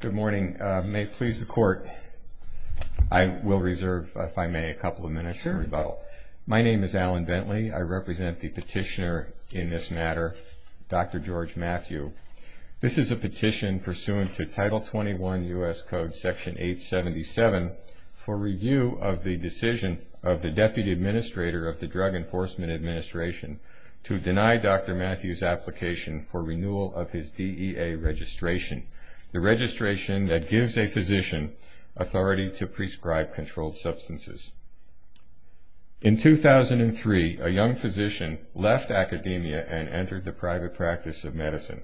Good morning. May it please the Court, I will reserve, if I may, a couple of minutes for rebuttal. My name is Alan Bentley. I represent the petitioner in this matter, Dr. George Mathew. This is a petition pursuant to Title 21 U.S. Code Section 877 for review of the decision of the Deputy Administrator of the Drug Enforcement Administration to deny Dr. Mathew's application for renewal of his DEA registration. The registration that gives a physician authority to prescribe controlled substances. In 2003, a young physician left academia and entered the private practice of medicine.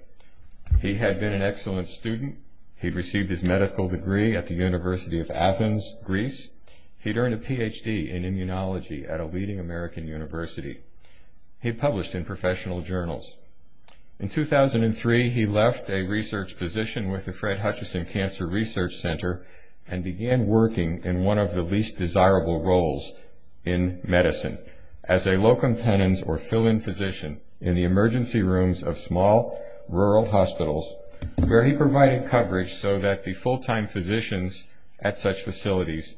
He had been an excellent student. He had received his medical degree at the University of Athens, Greece. He had earned a Ph.D. in immunology at a leading American university. He had published in professional journals. In 2003, he left a research position with the Fred Hutchinson Cancer Research Center and began working in one of the least desirable roles in medicine as a locum tenens or fill-in physician in the emergency rooms of small rural hospitals where he provided coverage so that the full-time physicians at such facilities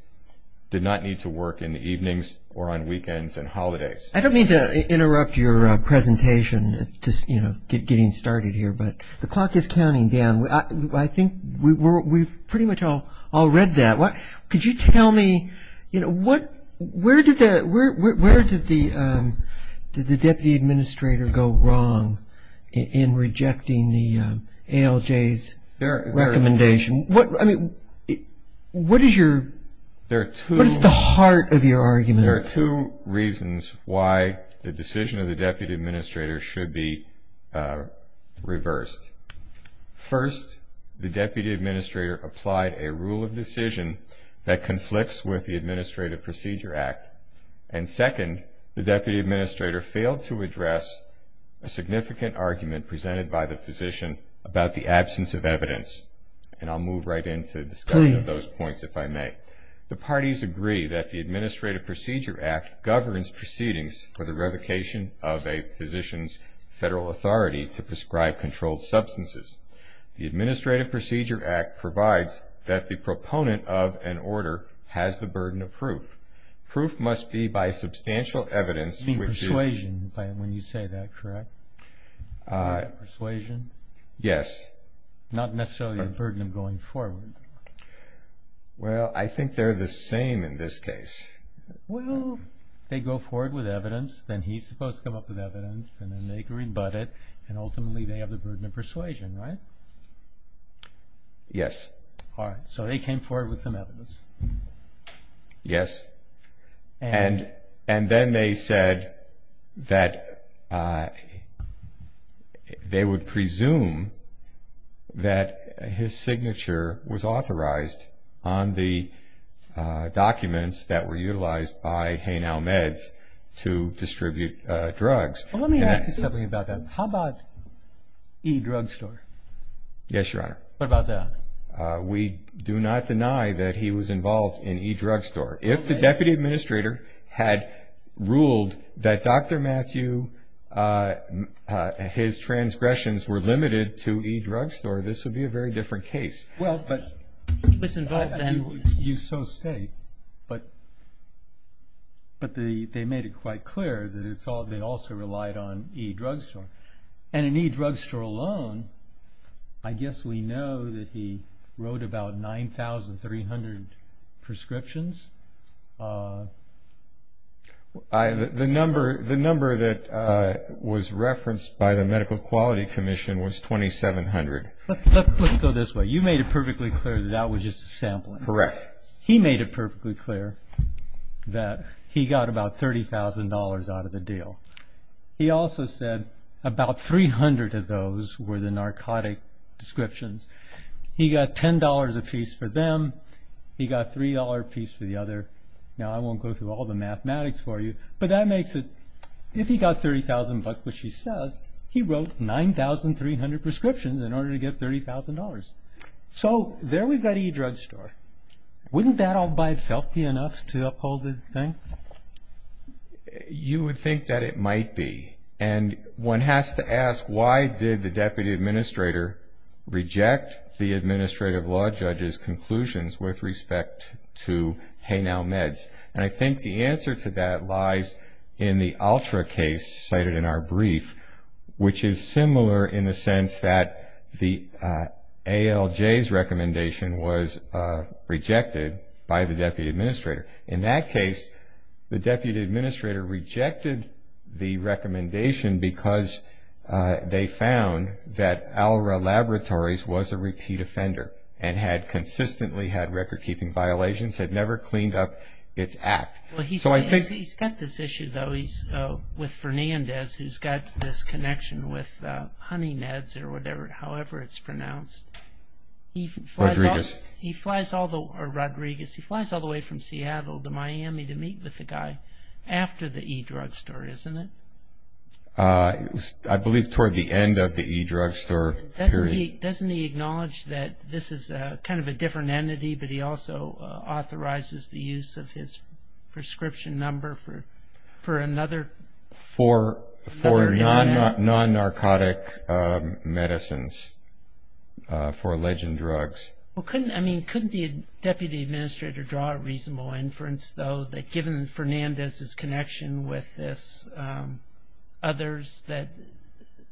did not need to work in the evenings or on weekends and holidays. I don't mean to interrupt your presentation just, you know, getting started here, but the clock is counting down. I think we've pretty much all read that. Could you tell me, you know, where did the Deputy Administrator go wrong in rejecting the ALJ's recommendation? I mean, what is the heart of your argument? There are two reasons why the decision of the Deputy Administrator should be reversed. First, the Deputy Administrator applied a rule of decision that conflicts with the Administrative Procedure Act, and second, the Deputy Administrator failed to address a significant argument presented by the physician about the absence of evidence, and I'll move right into discussion of those points if I may. The parties agree that the Administrative Procedure Act governs proceedings for the revocation of a physician's federal authority to prescribe controlled substances. The Administrative Procedure Act provides that the proponent of an order has the burden of proof. Proof must be by substantial evidence which is... You mean persuasion when you say that, correct? Persuasion? Yes. Not necessarily a burden of going forward. Well, I think they're the same in this case. Well, they go forward with evidence, then he's supposed to come up with evidence, and then they can rebut it, and ultimately they have the burden of persuasion, right? Yes. All right, so they came forward with some evidence. Yes. And then they said that they would presume that his signature was authorized on the documents that were utilized by Hain-Almed's to distribute drugs. Let me ask you something about that. How about E-Drugstore? Yes, Your Honor. What about that? We do not deny that he was involved in E-Drugstore. If the deputy administrator had ruled that Dr. Matthew, his transgressions were limited to E-Drugstore, this would be a very different case. Well, but... Listen, but then... You so state, but they made it quite clear that they also relied on E-Drugstore. And in E-Drugstore alone, I guess we know that he wrote about 9,300 prescriptions. The number that was referenced by the Medical Quality Commission was 2,700. Let's go this way. You made it perfectly clear that that was just a sampling. Correct. He made it perfectly clear that he got about $30,000 out of the deal. He also said about 300 of those were the narcotic descriptions. He got $10 apiece for them. He got $3 apiece for the other. Now, I won't go through all the mathematics for you, but that makes it... If he got 30,000 bucks, which he says, he wrote 9,300 prescriptions in order to get $30,000. So, there we've got E-Drugstore. Wouldn't that all by itself be enough to uphold the thing? You would think that it might be. And one has to ask, why did the Deputy Administrator reject the Administrative Law Judge's conclusions with respect to HeyNow Meds? And I think the answer to that lies in the ALTRA case cited in our brief, which is similar in the sense that the ALJ's recommendation was rejected by the Deputy Administrator. In that case, the Deputy Administrator rejected the recommendation because they found that ALRA Laboratories was a repeat offender and had consistently had record-keeping violations, had never cleaned up its act. Well, he's got this issue, though, with Fernandez, who's got this connection with HoneyNeds or whatever, however it's pronounced. Rodriguez. He flies all the way from Seattle to Miami to meet with the guy after the E-Drugstore, isn't it? I believe toward the end of the E-Drugstore period. Doesn't he acknowledge that this is kind of a different entity, but he also authorizes the use of his prescription number for another... For non-narcotic medicines, for alleged drugs. Well, couldn't the Deputy Administrator draw a reasonable inference, though, that given Fernandez's connection with this, others, that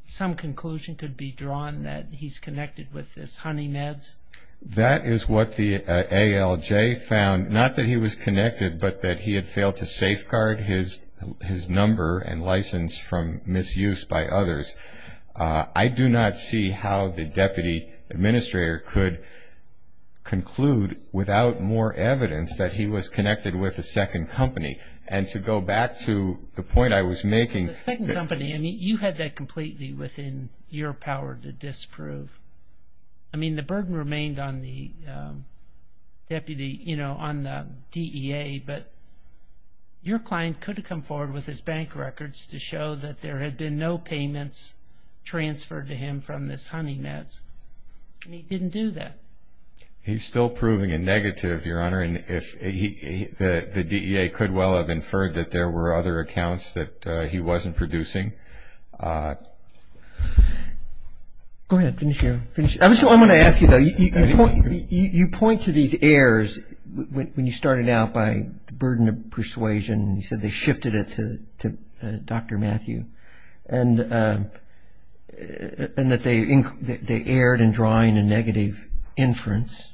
some conclusion could be drawn that he's connected with this HoneyNeds? That is what the ALJ found, not that he was connected, but that he had failed to safeguard his number and license from misuse by others. I do not see how the Deputy Administrator could conclude without more evidence that he was connected with a second company. And to go back to the point I was making... The second company, I mean, you had that completely within your power to disprove. I mean, the burden remained on the DEA, but your client could have come forward with his bank records to show that there had been no payments transferred to him from this HoneyNeds, and he didn't do that. He's still proving a negative, Your Honor, and the DEA could well have inferred that there were other accounts that he wasn't producing. Go ahead, finish your... I just want to ask you, though, you point to these errors when you started out by the burden of persuasion. You said they shifted it to Dr. Matthew, and that they erred in drawing a negative inference,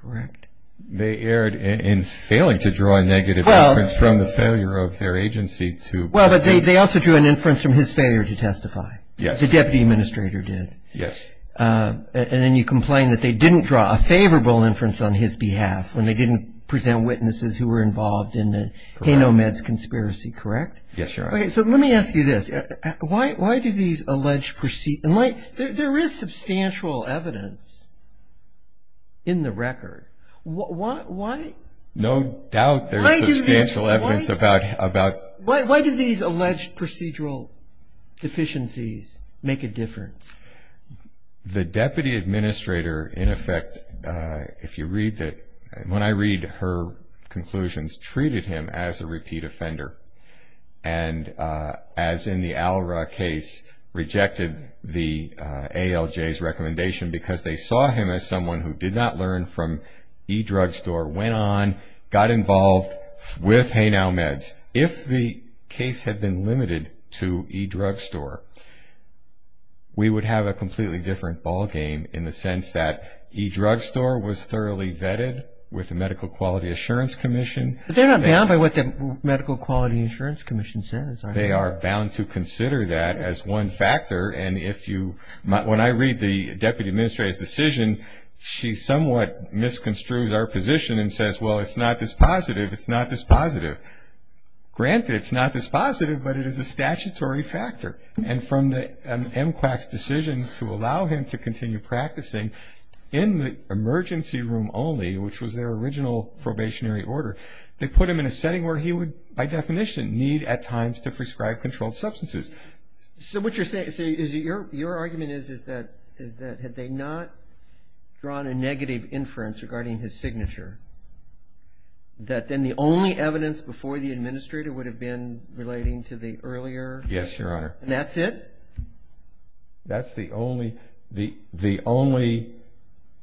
correct? They erred in failing to draw a negative inference from the failure of their agency to... Well, but they also drew an inference from his failure to testify. Yes. The Deputy Administrator did. Yes. And then you complain that they didn't draw a favorable inference on his behalf when they didn't present witnesses who were involved in the Hay-Nomads conspiracy, correct? Yes, Your Honor. Okay, so let me ask you this. Why do these alleged... There is substantial evidence in the record. Why... No doubt there's substantial evidence about... Why do these alleged procedural deficiencies make a difference? The Deputy Administrator, in effect, if you read the... When I read her conclusions, treated him as a repeat offender, and as in the Al-Ra case, rejected the ALJ's recommendation because they saw him as someone who did not learn from E-Drugstore, went on, got involved with Hay-Nomads. If the case had been limited to E-Drugstore, we would have a completely different ballgame in the sense that E-Drugstore was thoroughly vetted with the Medical Quality Assurance Commission. But they're not bound by what the Medical Quality Assurance Commission says, are they? They are bound to consider that as one factor, and if you... When I read the Deputy Administrator's decision, she somewhat misconstrues our position and says, well, it's not this positive, it's not this positive. Granted, it's not this positive, but it is a statutory factor. And from the MCWAC's decision to allow him to continue practicing in the emergency room only, which was their original probationary order, they put him in a setting where he would, by definition, need at times to prescribe controlled substances. So what you're saying... Your argument is that had they not drawn a negative inference regarding his signature, that then the only evidence before the Administrator would have been relating to the earlier... Yes, Your Honor. And that's it? That's the only... The only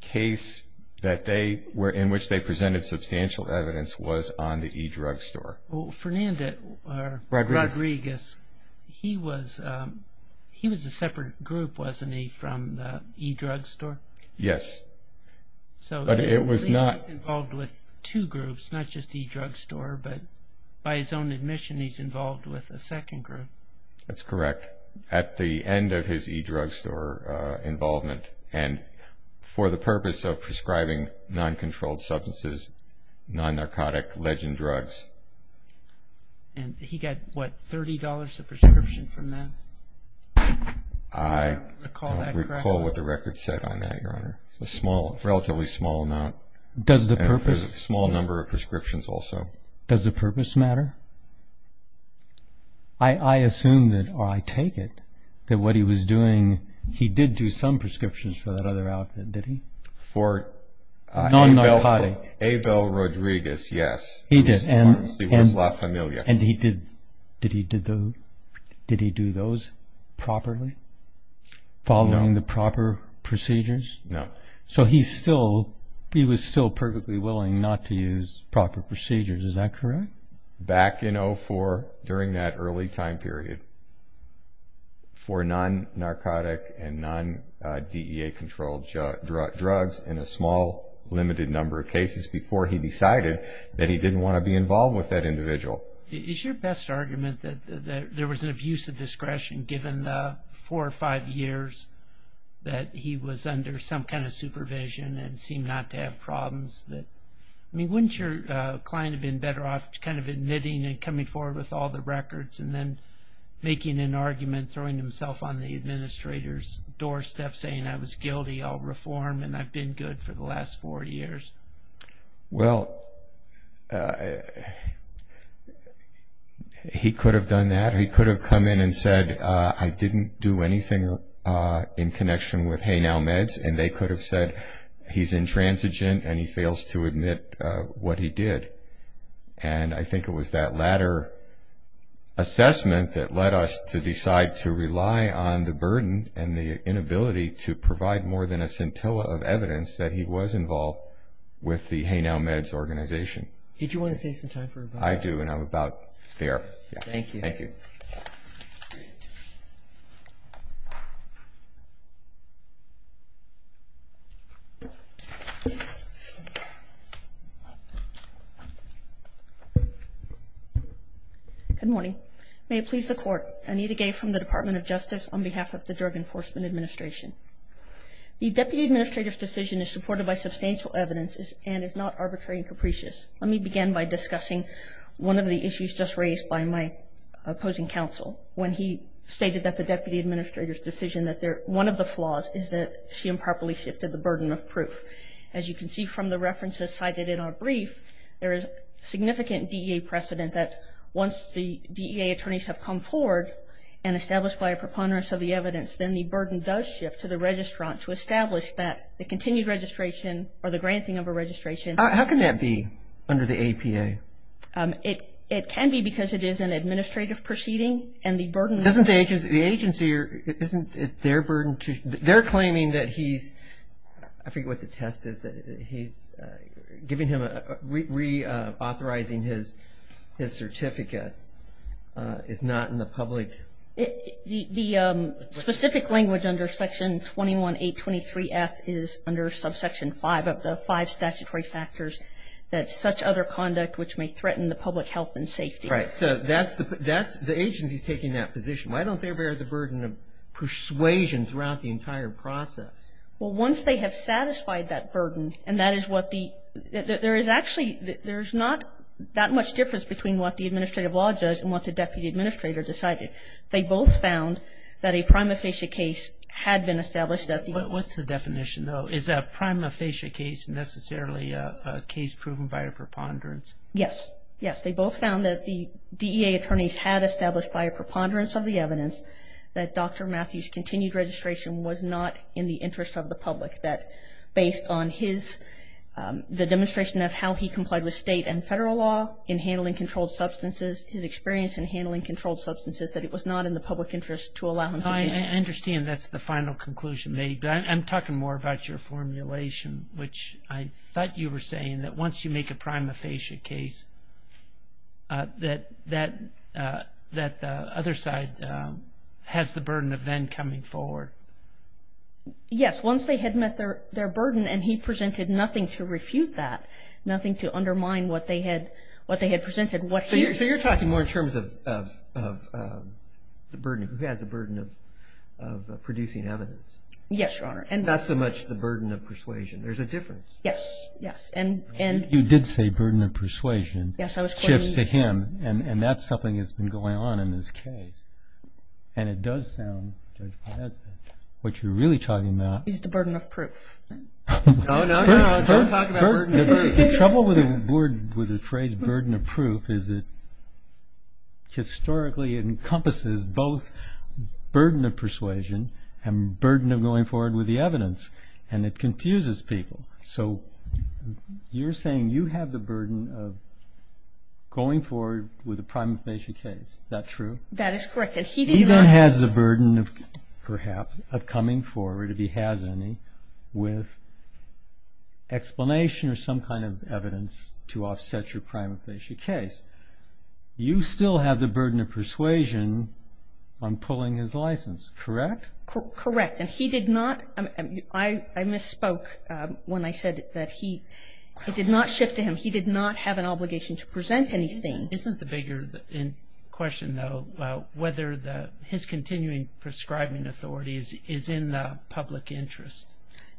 case in which they presented substantial evidence was on the E-Drugstore. Well, Fernando Rodriguez, he was a separate group, wasn't he, from the E-Drugstore? Yes, but it was not... So he's involved with two groups, not just the E-Drugstore, but by his own admission, he's involved with a second group. That's correct. At the end of his E-Drugstore involvement, and for the purpose of prescribing non-controlled substances, non-narcotic legend drugs. And he got, what, $30 a prescription from them? I don't recall what the record said on that, Your Honor. It's a relatively small amount. Does the purpose... And it was a small number of prescriptions also. Does the purpose matter? I assume that, or I take it, that what he was doing... He did do some prescriptions for that other outfit, did he? For... Non-narcotic. Abel Rodriguez, yes. He did. He was La Familia. And he did... Did he do those properly? No. Following the proper procedures? No. So he was still perfectly willing not to use proper procedures, is that correct? Back in 2004, during that early time period, for non-narcotic and non-DEA-controlled drugs in a small, limited number of cases before he decided that he didn't want to be involved with that individual. Is your best argument that there was an abuse of discretion, given the four or five years that he was under some kind of supervision and seemed not to have problems that... I mean, wouldn't your client have been better off kind of admitting and coming forward with all the records and then making an argument, throwing himself on the administrator's doorstep, saying, I was guilty, I'll reform, and I've been good for the last four years? Well, he could have done that. He could have come in and said, I didn't do anything in connection with HeyNow Meds, and they could have said, he's intransigent and he fails to admit what he did. And I think it was that latter assessment that led us to decide to rely on the burden and the inability to provide more than a scintilla of evidence that he was involved with the HeyNow Meds organization. Did you want to save some time for... I do, and I'm about there. Thank you. Thank you. Good morning. May it please the Court, Anita Gay from the Department of Justice on behalf of the Drug Enforcement Administration. The Deputy Administrator's decision is supported by substantial evidence and is not arbitrary and capricious. Let me begin by discussing one of the issues just raised by my opposing counsel when he stated that the Deputy Administrator's decision, that one of the flaws is that she improperly shifted the burden of proof. As you can see from the references cited in our brief, there is significant DEA precedent that once the DEA attorneys have come forward and established by a preponderance of the evidence, then the burden does shift to the registrant to establish that the continued registration or the granting of a registration... How can that be under the APA? It can be because it is an administrative proceeding and the burden... The agency, isn't it their burden to... They're claiming that he's... I forget what the test is, that he's giving him... reauthorizing his certificate is not in the public... The specific language under Section 21.8.23.F is under Subsection 5 of the five statutory factors that such other conduct which may threaten the public health and safety... The agency is taking that position. Why don't they bear the burden of persuasion throughout the entire process? Well, once they have satisfied that burden, and that is what the... There is actually... There is not that much difference between what the Administrative Law Judge and what the Deputy Administrator decided. They both found that a prima facie case had been established at the... What's the definition, though? Is a prima facie case necessarily a case proven by a preponderance? Yes. Yes, they both found that the DEA attorneys had established by a preponderance of the evidence that Dr. Matthews' continued registration was not in the interest of the public, that based on his... the demonstration of how he complied with state and federal law in handling controlled substances, his experience in handling controlled substances, that it was not in the public interest to allow him to be... I understand that's the final conclusion. I'm talking more about your formulation, which I thought you were saying that once you make a prima facie case, that the other side has the burden of then coming forward. Yes. Once they had met their burden and he presented nothing to refute that, nothing to undermine what they had presented, what he... So you're talking more in terms of the burden... who has the burden of producing evidence? Yes, Your Honor. Not so much the burden of persuasion. There's a difference. Yes, yes, and... You did say burden of persuasion shifts to him, and that's something that's been going on in this case. And it does sound, Judge Podesta, what you're really talking about... Is the burden of proof. No, no, no. Don't talk about burden of proof. The trouble with the phrase burden of proof is it historically encompasses both burden of persuasion and burden of going forward with the evidence, and it confuses people. So you're saying you have the burden of going forward with a prima facie case. Is that true? That is correct. He then has the burden, perhaps, of coming forward, if he has any, with explanation or some kind of evidence to offset your prima facie case. You still have the burden of persuasion on pulling his license, correct? Correct, and he did not... I misspoke when I said that he did not shift to him. He did not have an obligation to present anything. Isn't the bigger question, though, whether his continuing prescribing authority is in the public interest?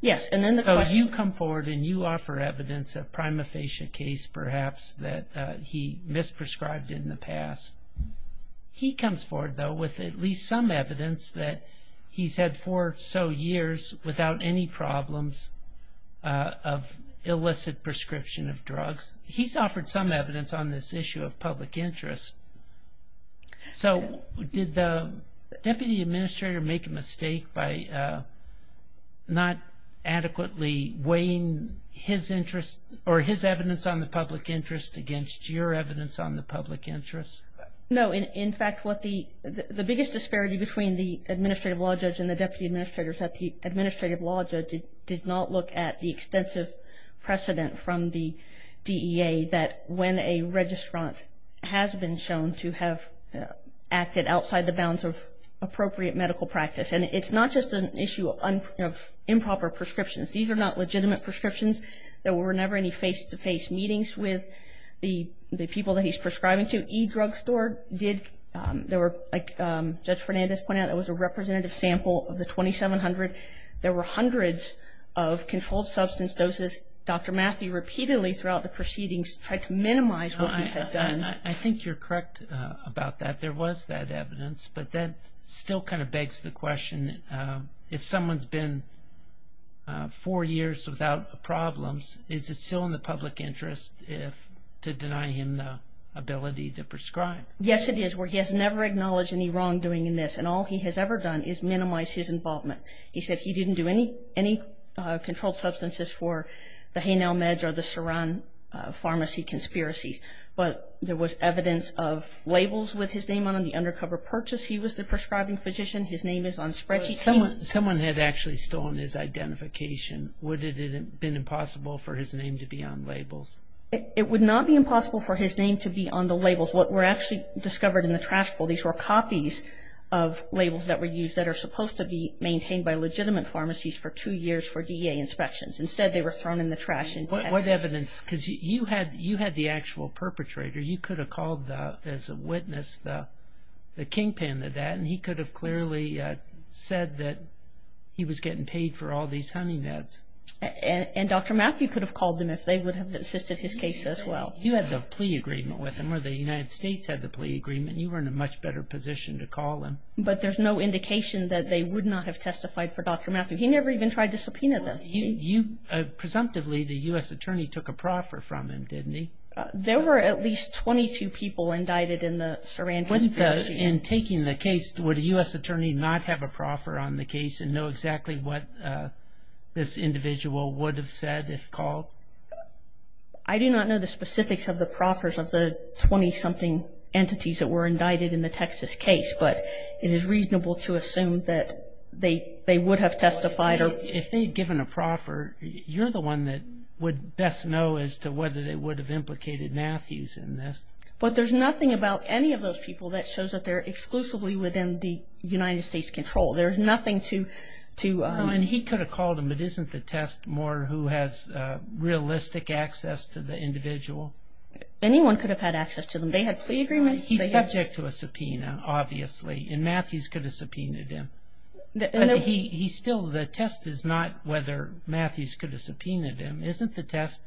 Yes, and then the question... So you come forward and you offer evidence, a prima facie case perhaps, that he misprescribed in the past. He comes forward, though, with at least some evidence that he's had four or so years without any problems of illicit prescription of drugs. He's offered some evidence on this issue of public interest. So did the deputy administrator make a mistake by not adequately weighing his interest or his evidence on the public interest against your evidence on the public interest? No. In fact, the biggest disparity between the administrative law judge and the deputy administrator is that the administrative law judge did not look at the extensive precedent from the DEA that when a registrant has been shown to have acted outside the bounds of appropriate medical practice. And it's not just an issue of improper prescriptions. These are not legitimate prescriptions. There were never any face-to-face meetings with the people that he's prescribing to. E-drugstore did, like Judge Fernandez pointed out, it was a representative sample of the 2,700. There were hundreds of controlled substance doses. Dr. Matthew repeatedly throughout the proceedings tried to minimize what he had done. I think you're correct about that. There was that evidence, but that still kind of begs the question, if someone's been four years without problems, is it still in the public interest to deny him the ability to prescribe? Yes, it is, where he has never acknowledged any wrongdoing in this, and all he has ever done is minimize his involvement. He said he didn't do any controlled substances for the Haynell Meds or the Surin Pharmacy conspiracies, but there was evidence of labels with his name on them, the undercover purchase. He was the prescribing physician. His name is on the spreadsheet. Someone had actually stolen his identification. Would it have been impossible for his name to be on labels? It would not be impossible for his name to be on the labels. What were actually discovered in the trash bowl, these were copies of labels that were used that are supposed to be maintained by legitimate pharmacies for two years for DEA inspections. Instead, they were thrown in the trash in Texas. What evidence? Because you had the actual perpetrator. You could have called, as a witness, the kingpin of that, and he could have clearly said that he was getting paid for all these honey meds. And Dr. Matthew could have called them if they would have assisted his case as well. You had the plea agreement with him, or the United States had the plea agreement. You were in a much better position to call him. But there's no indication that they would not have testified for Dr. Matthew. He never even tried to subpoena them. Presumptively, the U.S. attorney took a proffer from him, didn't he? There were at least 22 people indicted in the Sarandon case. In taking the case, would a U.S. attorney not have a proffer on the case and know exactly what this individual would have said if called? I do not know the specifics of the proffers of the 20-something entities that were indicted in the Texas case, but it is reasonable to assume that they would have testified. If they had given a proffer, you're the one that would best know as to whether they would have implicated Matthews in this. But there's nothing about any of those people that shows that they're exclusively within the United States' control. There's nothing to... No, and he could have called them, but isn't the test more who has realistic access to the individual? Anyone could have had access to them. They had plea agreements. He's subject to a subpoena, obviously, and Matthews could have subpoenaed him. But he still, the test is not whether Matthews could have subpoenaed him. Isn't the test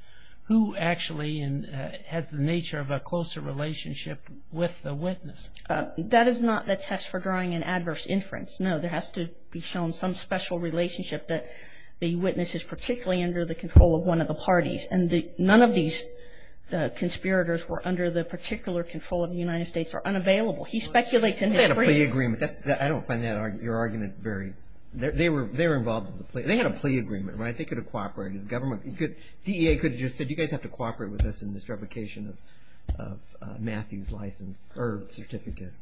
who actually has the nature of a closer relationship with the witness? That is not the test for drawing an adverse inference, no. There has to be shown some special relationship that the witness is particularly under the control of one of the parties, and none of these conspirators were under the particular control of the United States or unavailable. He speculates in his brief. They had a plea agreement. I don't find your argument very... They were involved in the plea. They had a plea agreement, right? They could have cooperated. The government could... DEA could have just said, you guys have to cooperate with us in this replication of Matthews' license or certificate.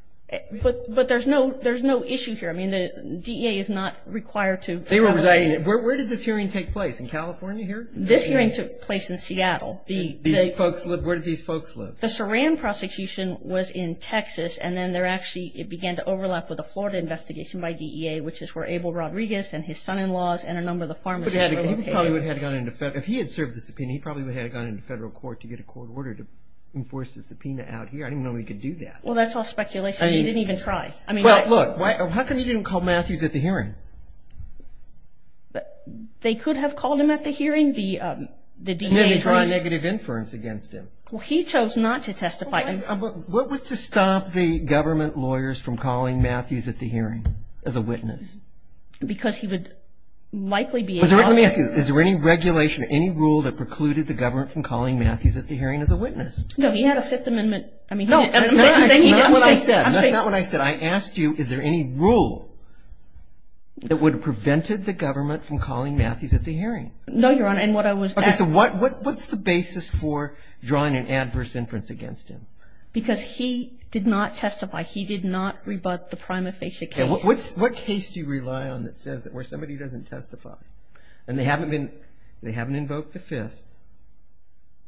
But there's no issue here. I mean, the DEA is not required to... They were residing... Where did this hearing take place, in California here? This hearing took place in Seattle. Where did these folks live? The Saran prosecution was in Texas, and then there actually began to overlap with the Florida investigation by DEA, which is where Abel Rodriguez and his son-in-laws and a number of the pharmacists were located. He probably would have gone into federal... If he had served the subpoena, he probably would have gone into federal court to get a court order to enforce the subpoena out here. I didn't know he could do that. Well, that's all speculation. He didn't even try. I mean... Well, look. How come he didn't call Matthews at the hearing? They could have called him at the hearing. The DEA... He didn't draw a negative inference against him. Well, he chose not to testify. What was to stop the government lawyers from calling Matthews at the hearing as a witness? Because he would likely be... Let me ask you, is there any regulation, any rule that precluded the government from calling Matthews at the hearing as a witness? No, he had a Fifth Amendment... No, that's not what I said. That's not what I said. I asked you, is there any rule that would have prevented the government from calling Matthews at the hearing? No, Your Honor, and what I was asking... Okay, so what's the basis for drawing an adverse inference against him? Because he did not testify. He did not rebut the prima facie case. What case do you rely on that says that where somebody doesn't testify and they haven't invoked the Fifth,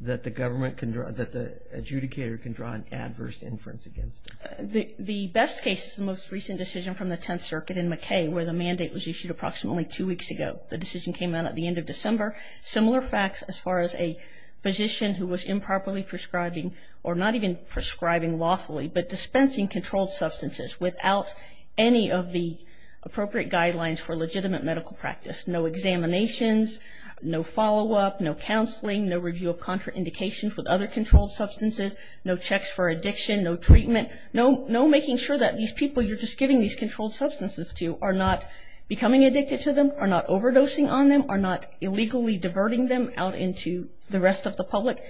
that the adjudicator can draw an adverse inference against them? The best case is the most recent decision from the Tenth Circuit in McKay where the mandate was issued approximately two weeks ago. The decision came out at the end of December. Similar facts as far as a physician who was improperly prescribing, or not even prescribing lawfully, but dispensing controlled substances without any of the appropriate guidelines for legitimate medical practice. No examinations, no follow-up, no counseling, no review of contraindications with other controlled substances, no checks for addiction, no treatment, no making sure that these people you're just giving these controlled substances to are not becoming addicted to them, are not overdosing on them, are not illegally diverting them out into the rest of the public.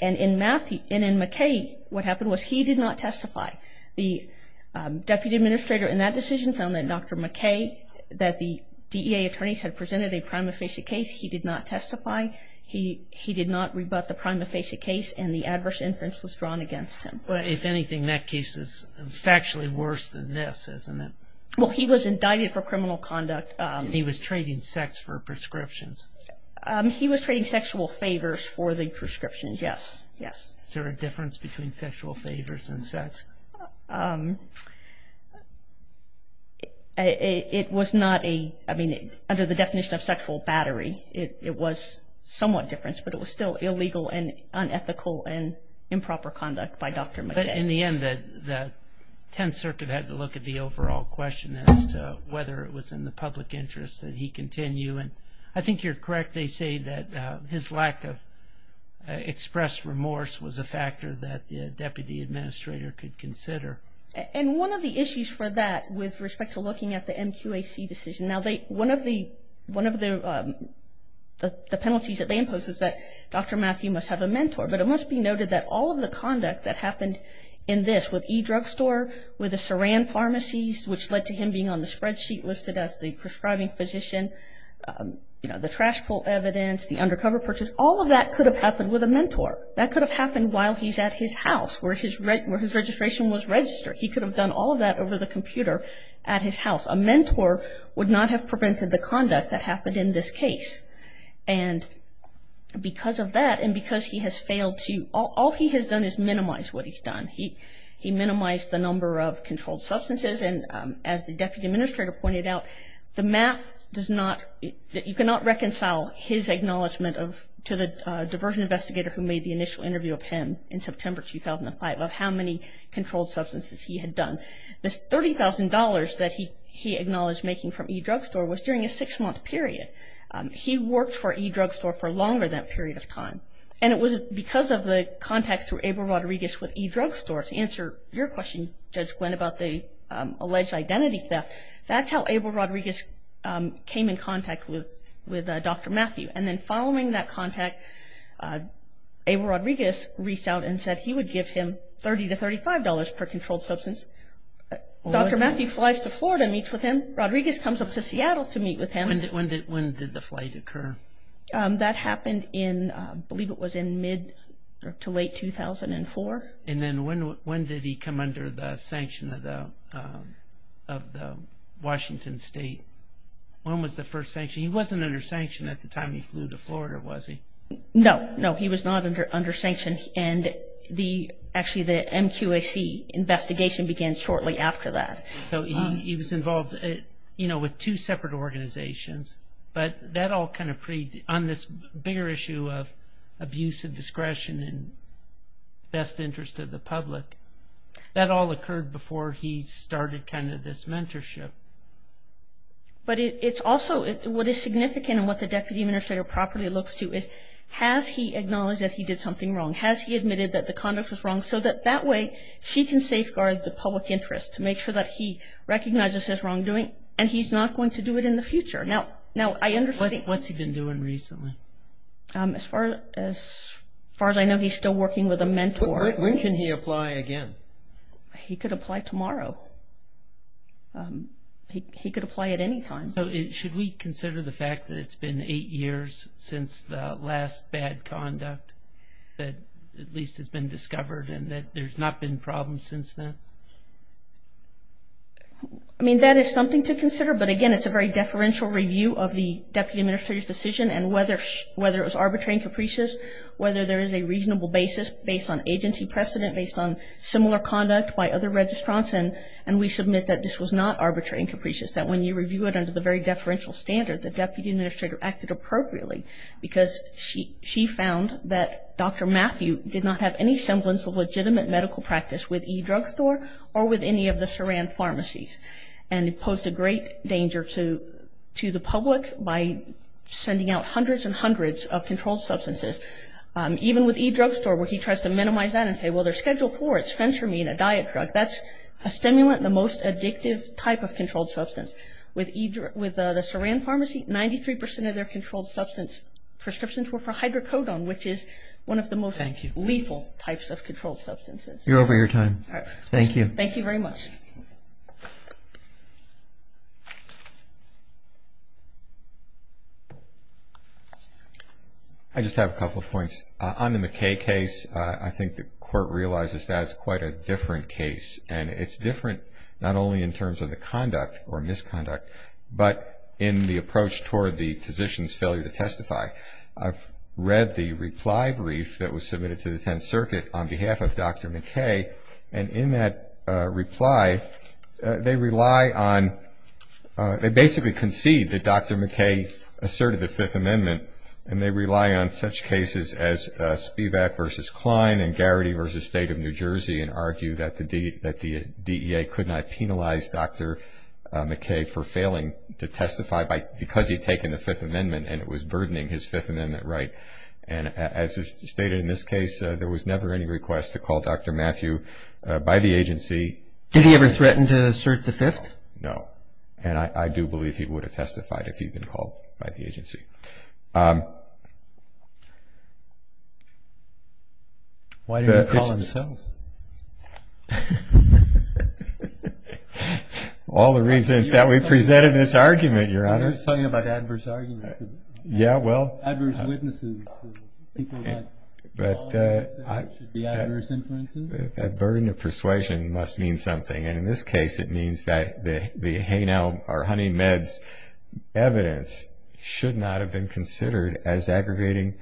And in McKay, what happened was he did not testify. The deputy administrator in that decision found that Dr. McKay, that the DEA attorneys had presented a prima facie case, he did not testify. He did not rebut the prima facie case, and the adverse inference was drawn against him. If anything, that case is factually worse than this, isn't it? Well, he was indicted for criminal conduct. He was trading sex for prescriptions. He was trading sexual favors for the prescriptions, yes. Yes. Is there a difference between sexual favors and sex? It was not a, I mean, under the definition of sexual battery, it was somewhat different, but it was still illegal and unethical and improper conduct by Dr. McKay. But in the end, the Tenth Circuit had to look at the overall question as to whether it was in the public interest that he continue, and I think you're correct. They say that his lack of expressed remorse was a factor that the deputy administrator could consider. And one of the issues for that, with respect to looking at the MQAC decision, now one of the penalties that they impose is that Dr. Matthew must have a mentor, but it must be noted that all of the conduct that happened in this, with e-drugstore, with the Saran pharmacies, which led to him being on the spreadsheet listed as the prescribing physician, the trash pull evidence, the undercover purchase, all of that could have happened with a mentor. That could have happened while he's at his house, where his registration was registered. He could have done all of that over the computer at his house. A mentor would not have prevented the conduct that happened in this case. And because of that and because he has failed to, all he has done is minimize what he's done. He minimized the number of controlled substances. And as the deputy administrator pointed out, the math does not, you cannot reconcile his acknowledgement of, to the diversion investigator who made the initial interview of him in September 2005, of how many controlled substances he had done. This $30,000 that he acknowledged making from e-drugstore was during a six-month period. He worked for e-drugstore for longer that period of time. And it was because of the contacts through Abel Rodriguez with e-drugstore. To answer your question, Judge Gwinn, about the alleged identity theft, that's how Abel Rodriguez came in contact with Dr. Matthew. And then following that contact, Abel Rodriguez reached out and said he would give him $30 to $35 per controlled substance. Dr. Matthew flies to Florida and meets with him. Rodriguez comes up to Seattle to meet with him. When did the flight occur? That happened in, I believe it was in mid to late 2004. And then when did he come under the sanction of the Washington State? When was the first sanction? He wasn't under sanction at the time he flew to Florida, was he? No. No, he was not under sanction. And the, actually the MQAC investigation began shortly after that. So he was involved, you know, with two separate organizations. But that all kind of, on this bigger issue of abuse of discretion and best interest of the public, that all occurred before he started kind of this mentorship. But it's also, what is significant and what the Deputy Administrator properly looks to is, has he acknowledged that he did something wrong? Has he admitted that the conduct was wrong? So that that way, she can safeguard the public interest to make sure that he recognizes his wrongdoing and he's not going to do it in the future. Now, I understand. What's he been doing recently? As far as I know, he's still working with a mentor. When can he apply again? He could apply tomorrow. He could apply at any time. So should we consider the fact that it's been eight years since the last bad conduct that at least has been discovered and that there's not been problems since then? I mean, that is something to consider. But, again, it's a very deferential review of the Deputy Administrator's decision and whether it was arbitrary and capricious, whether there is a reasonable basis based on agency precedent, based on similar conduct by other registrants. And we submit that this was not arbitrary and capricious, that when you review it under the very deferential standard, the Deputy Administrator acted appropriately because she found that Dr. Matthew did not have any semblance of legitimate medical practice with e-drug store or with any of the Saran pharmacies and posed a great danger to the public by sending out hundreds and hundreds of controlled substances. Even with e-drug store where he tries to minimize that and say, well, they're Schedule IV, it's fentramine, a diet drug. That's a stimulant, the most addictive type of controlled substance. With the Saran pharmacy, 93% of their controlled substance prescriptions were for hydrocodone, which is one of the most lethal types of controlled substances. You're over your time. Thank you. Thank you very much. I just have a couple of points. On the McKay case, I think the Court realizes that it's quite a different case, and it's different not only in terms of the conduct or misconduct, but in the approach toward the physician's failure to testify. I've read the reply brief that was submitted to the Tenth Circuit on behalf of Dr. McKay, and in that reply, they rely on – they basically concede that Dr. McKay asserted the Fifth Amendment, and they rely on such cases as Spivak v. Klein and Garrity v. State of New Jersey and argue that the DEA could not penalize Dr. McKay for failing to testify because he had taken the Fifth Amendment and it was burdening his Fifth Amendment right. And as is stated in this case, there was never any request to call Dr. Matthew by the agency. Did he ever threaten to assert the Fifth? No. And I do believe he would have testified if he'd been called by the agency. Why didn't he call himself? All the reasons that we've presented in this argument, Your Honor. We're just talking about adverse arguments. Yeah, well. Adverse witnesses. People who have false evidence that there should be adverse influences. A burden of persuasion must mean something, and in this case it means that the haynail or honey meds evidence should not have been considered as aggregating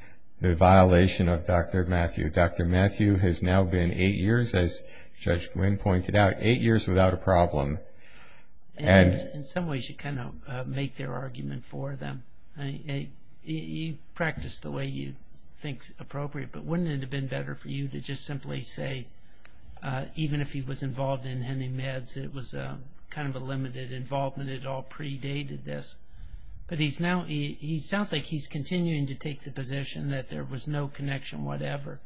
the violation of Dr. Matthew. Dr. Matthew has now been eight years, as Judge Glynn pointed out, eight years without a problem. And in some ways you kind of make their argument for them. You practice the way you think is appropriate, but wouldn't it have been better for you to just simply say even if he was involved in honey meds, it was kind of a limited involvement, it all predated this. But he sounds like he's continuing to take the position that there was no connection whatever,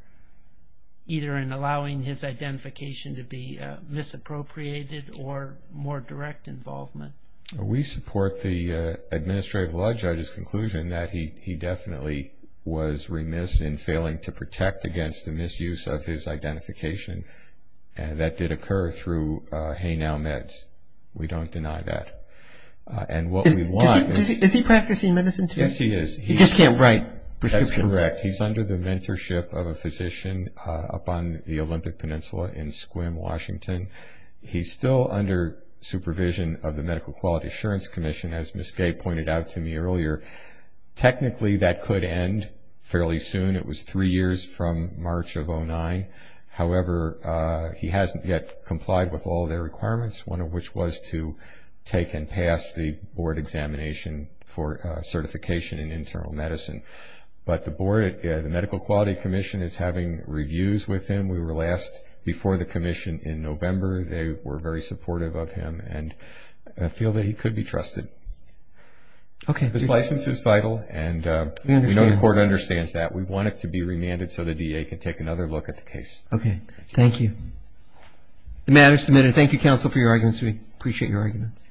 either in allowing his identification to be misappropriated or more direct involvement. We support the administrative law judge's conclusion that he definitely was remiss in failing to protect against the misuse of his identification that did occur through haynail meds. We don't deny that. And what we want is... Is he practicing medicine today? Yes, he is. He just can't write prescriptions. That's correct. He's under the mentorship of a physician up on the Olympic Peninsula in Sequim, Washington. He's still under supervision of the Medical Quality Assurance Commission, as Ms. Gay pointed out to me earlier. Technically that could end fairly soon. It was three years from March of 2009. However, he hasn't yet complied with all their requirements, one of which was to take and pass the board examination for certification in internal medicine. But the board, the Medical Quality Commission, is having reviews with him. We were last before the commission in November. They were very supportive of him and feel that he could be trusted. Okay. This license is vital, and we know the court understands that. We want it to be remanded so the DA can take another look at the case. Okay. Thank you. The matter is submitted. Thank you, counsel, for your arguments. We appreciate your arguments.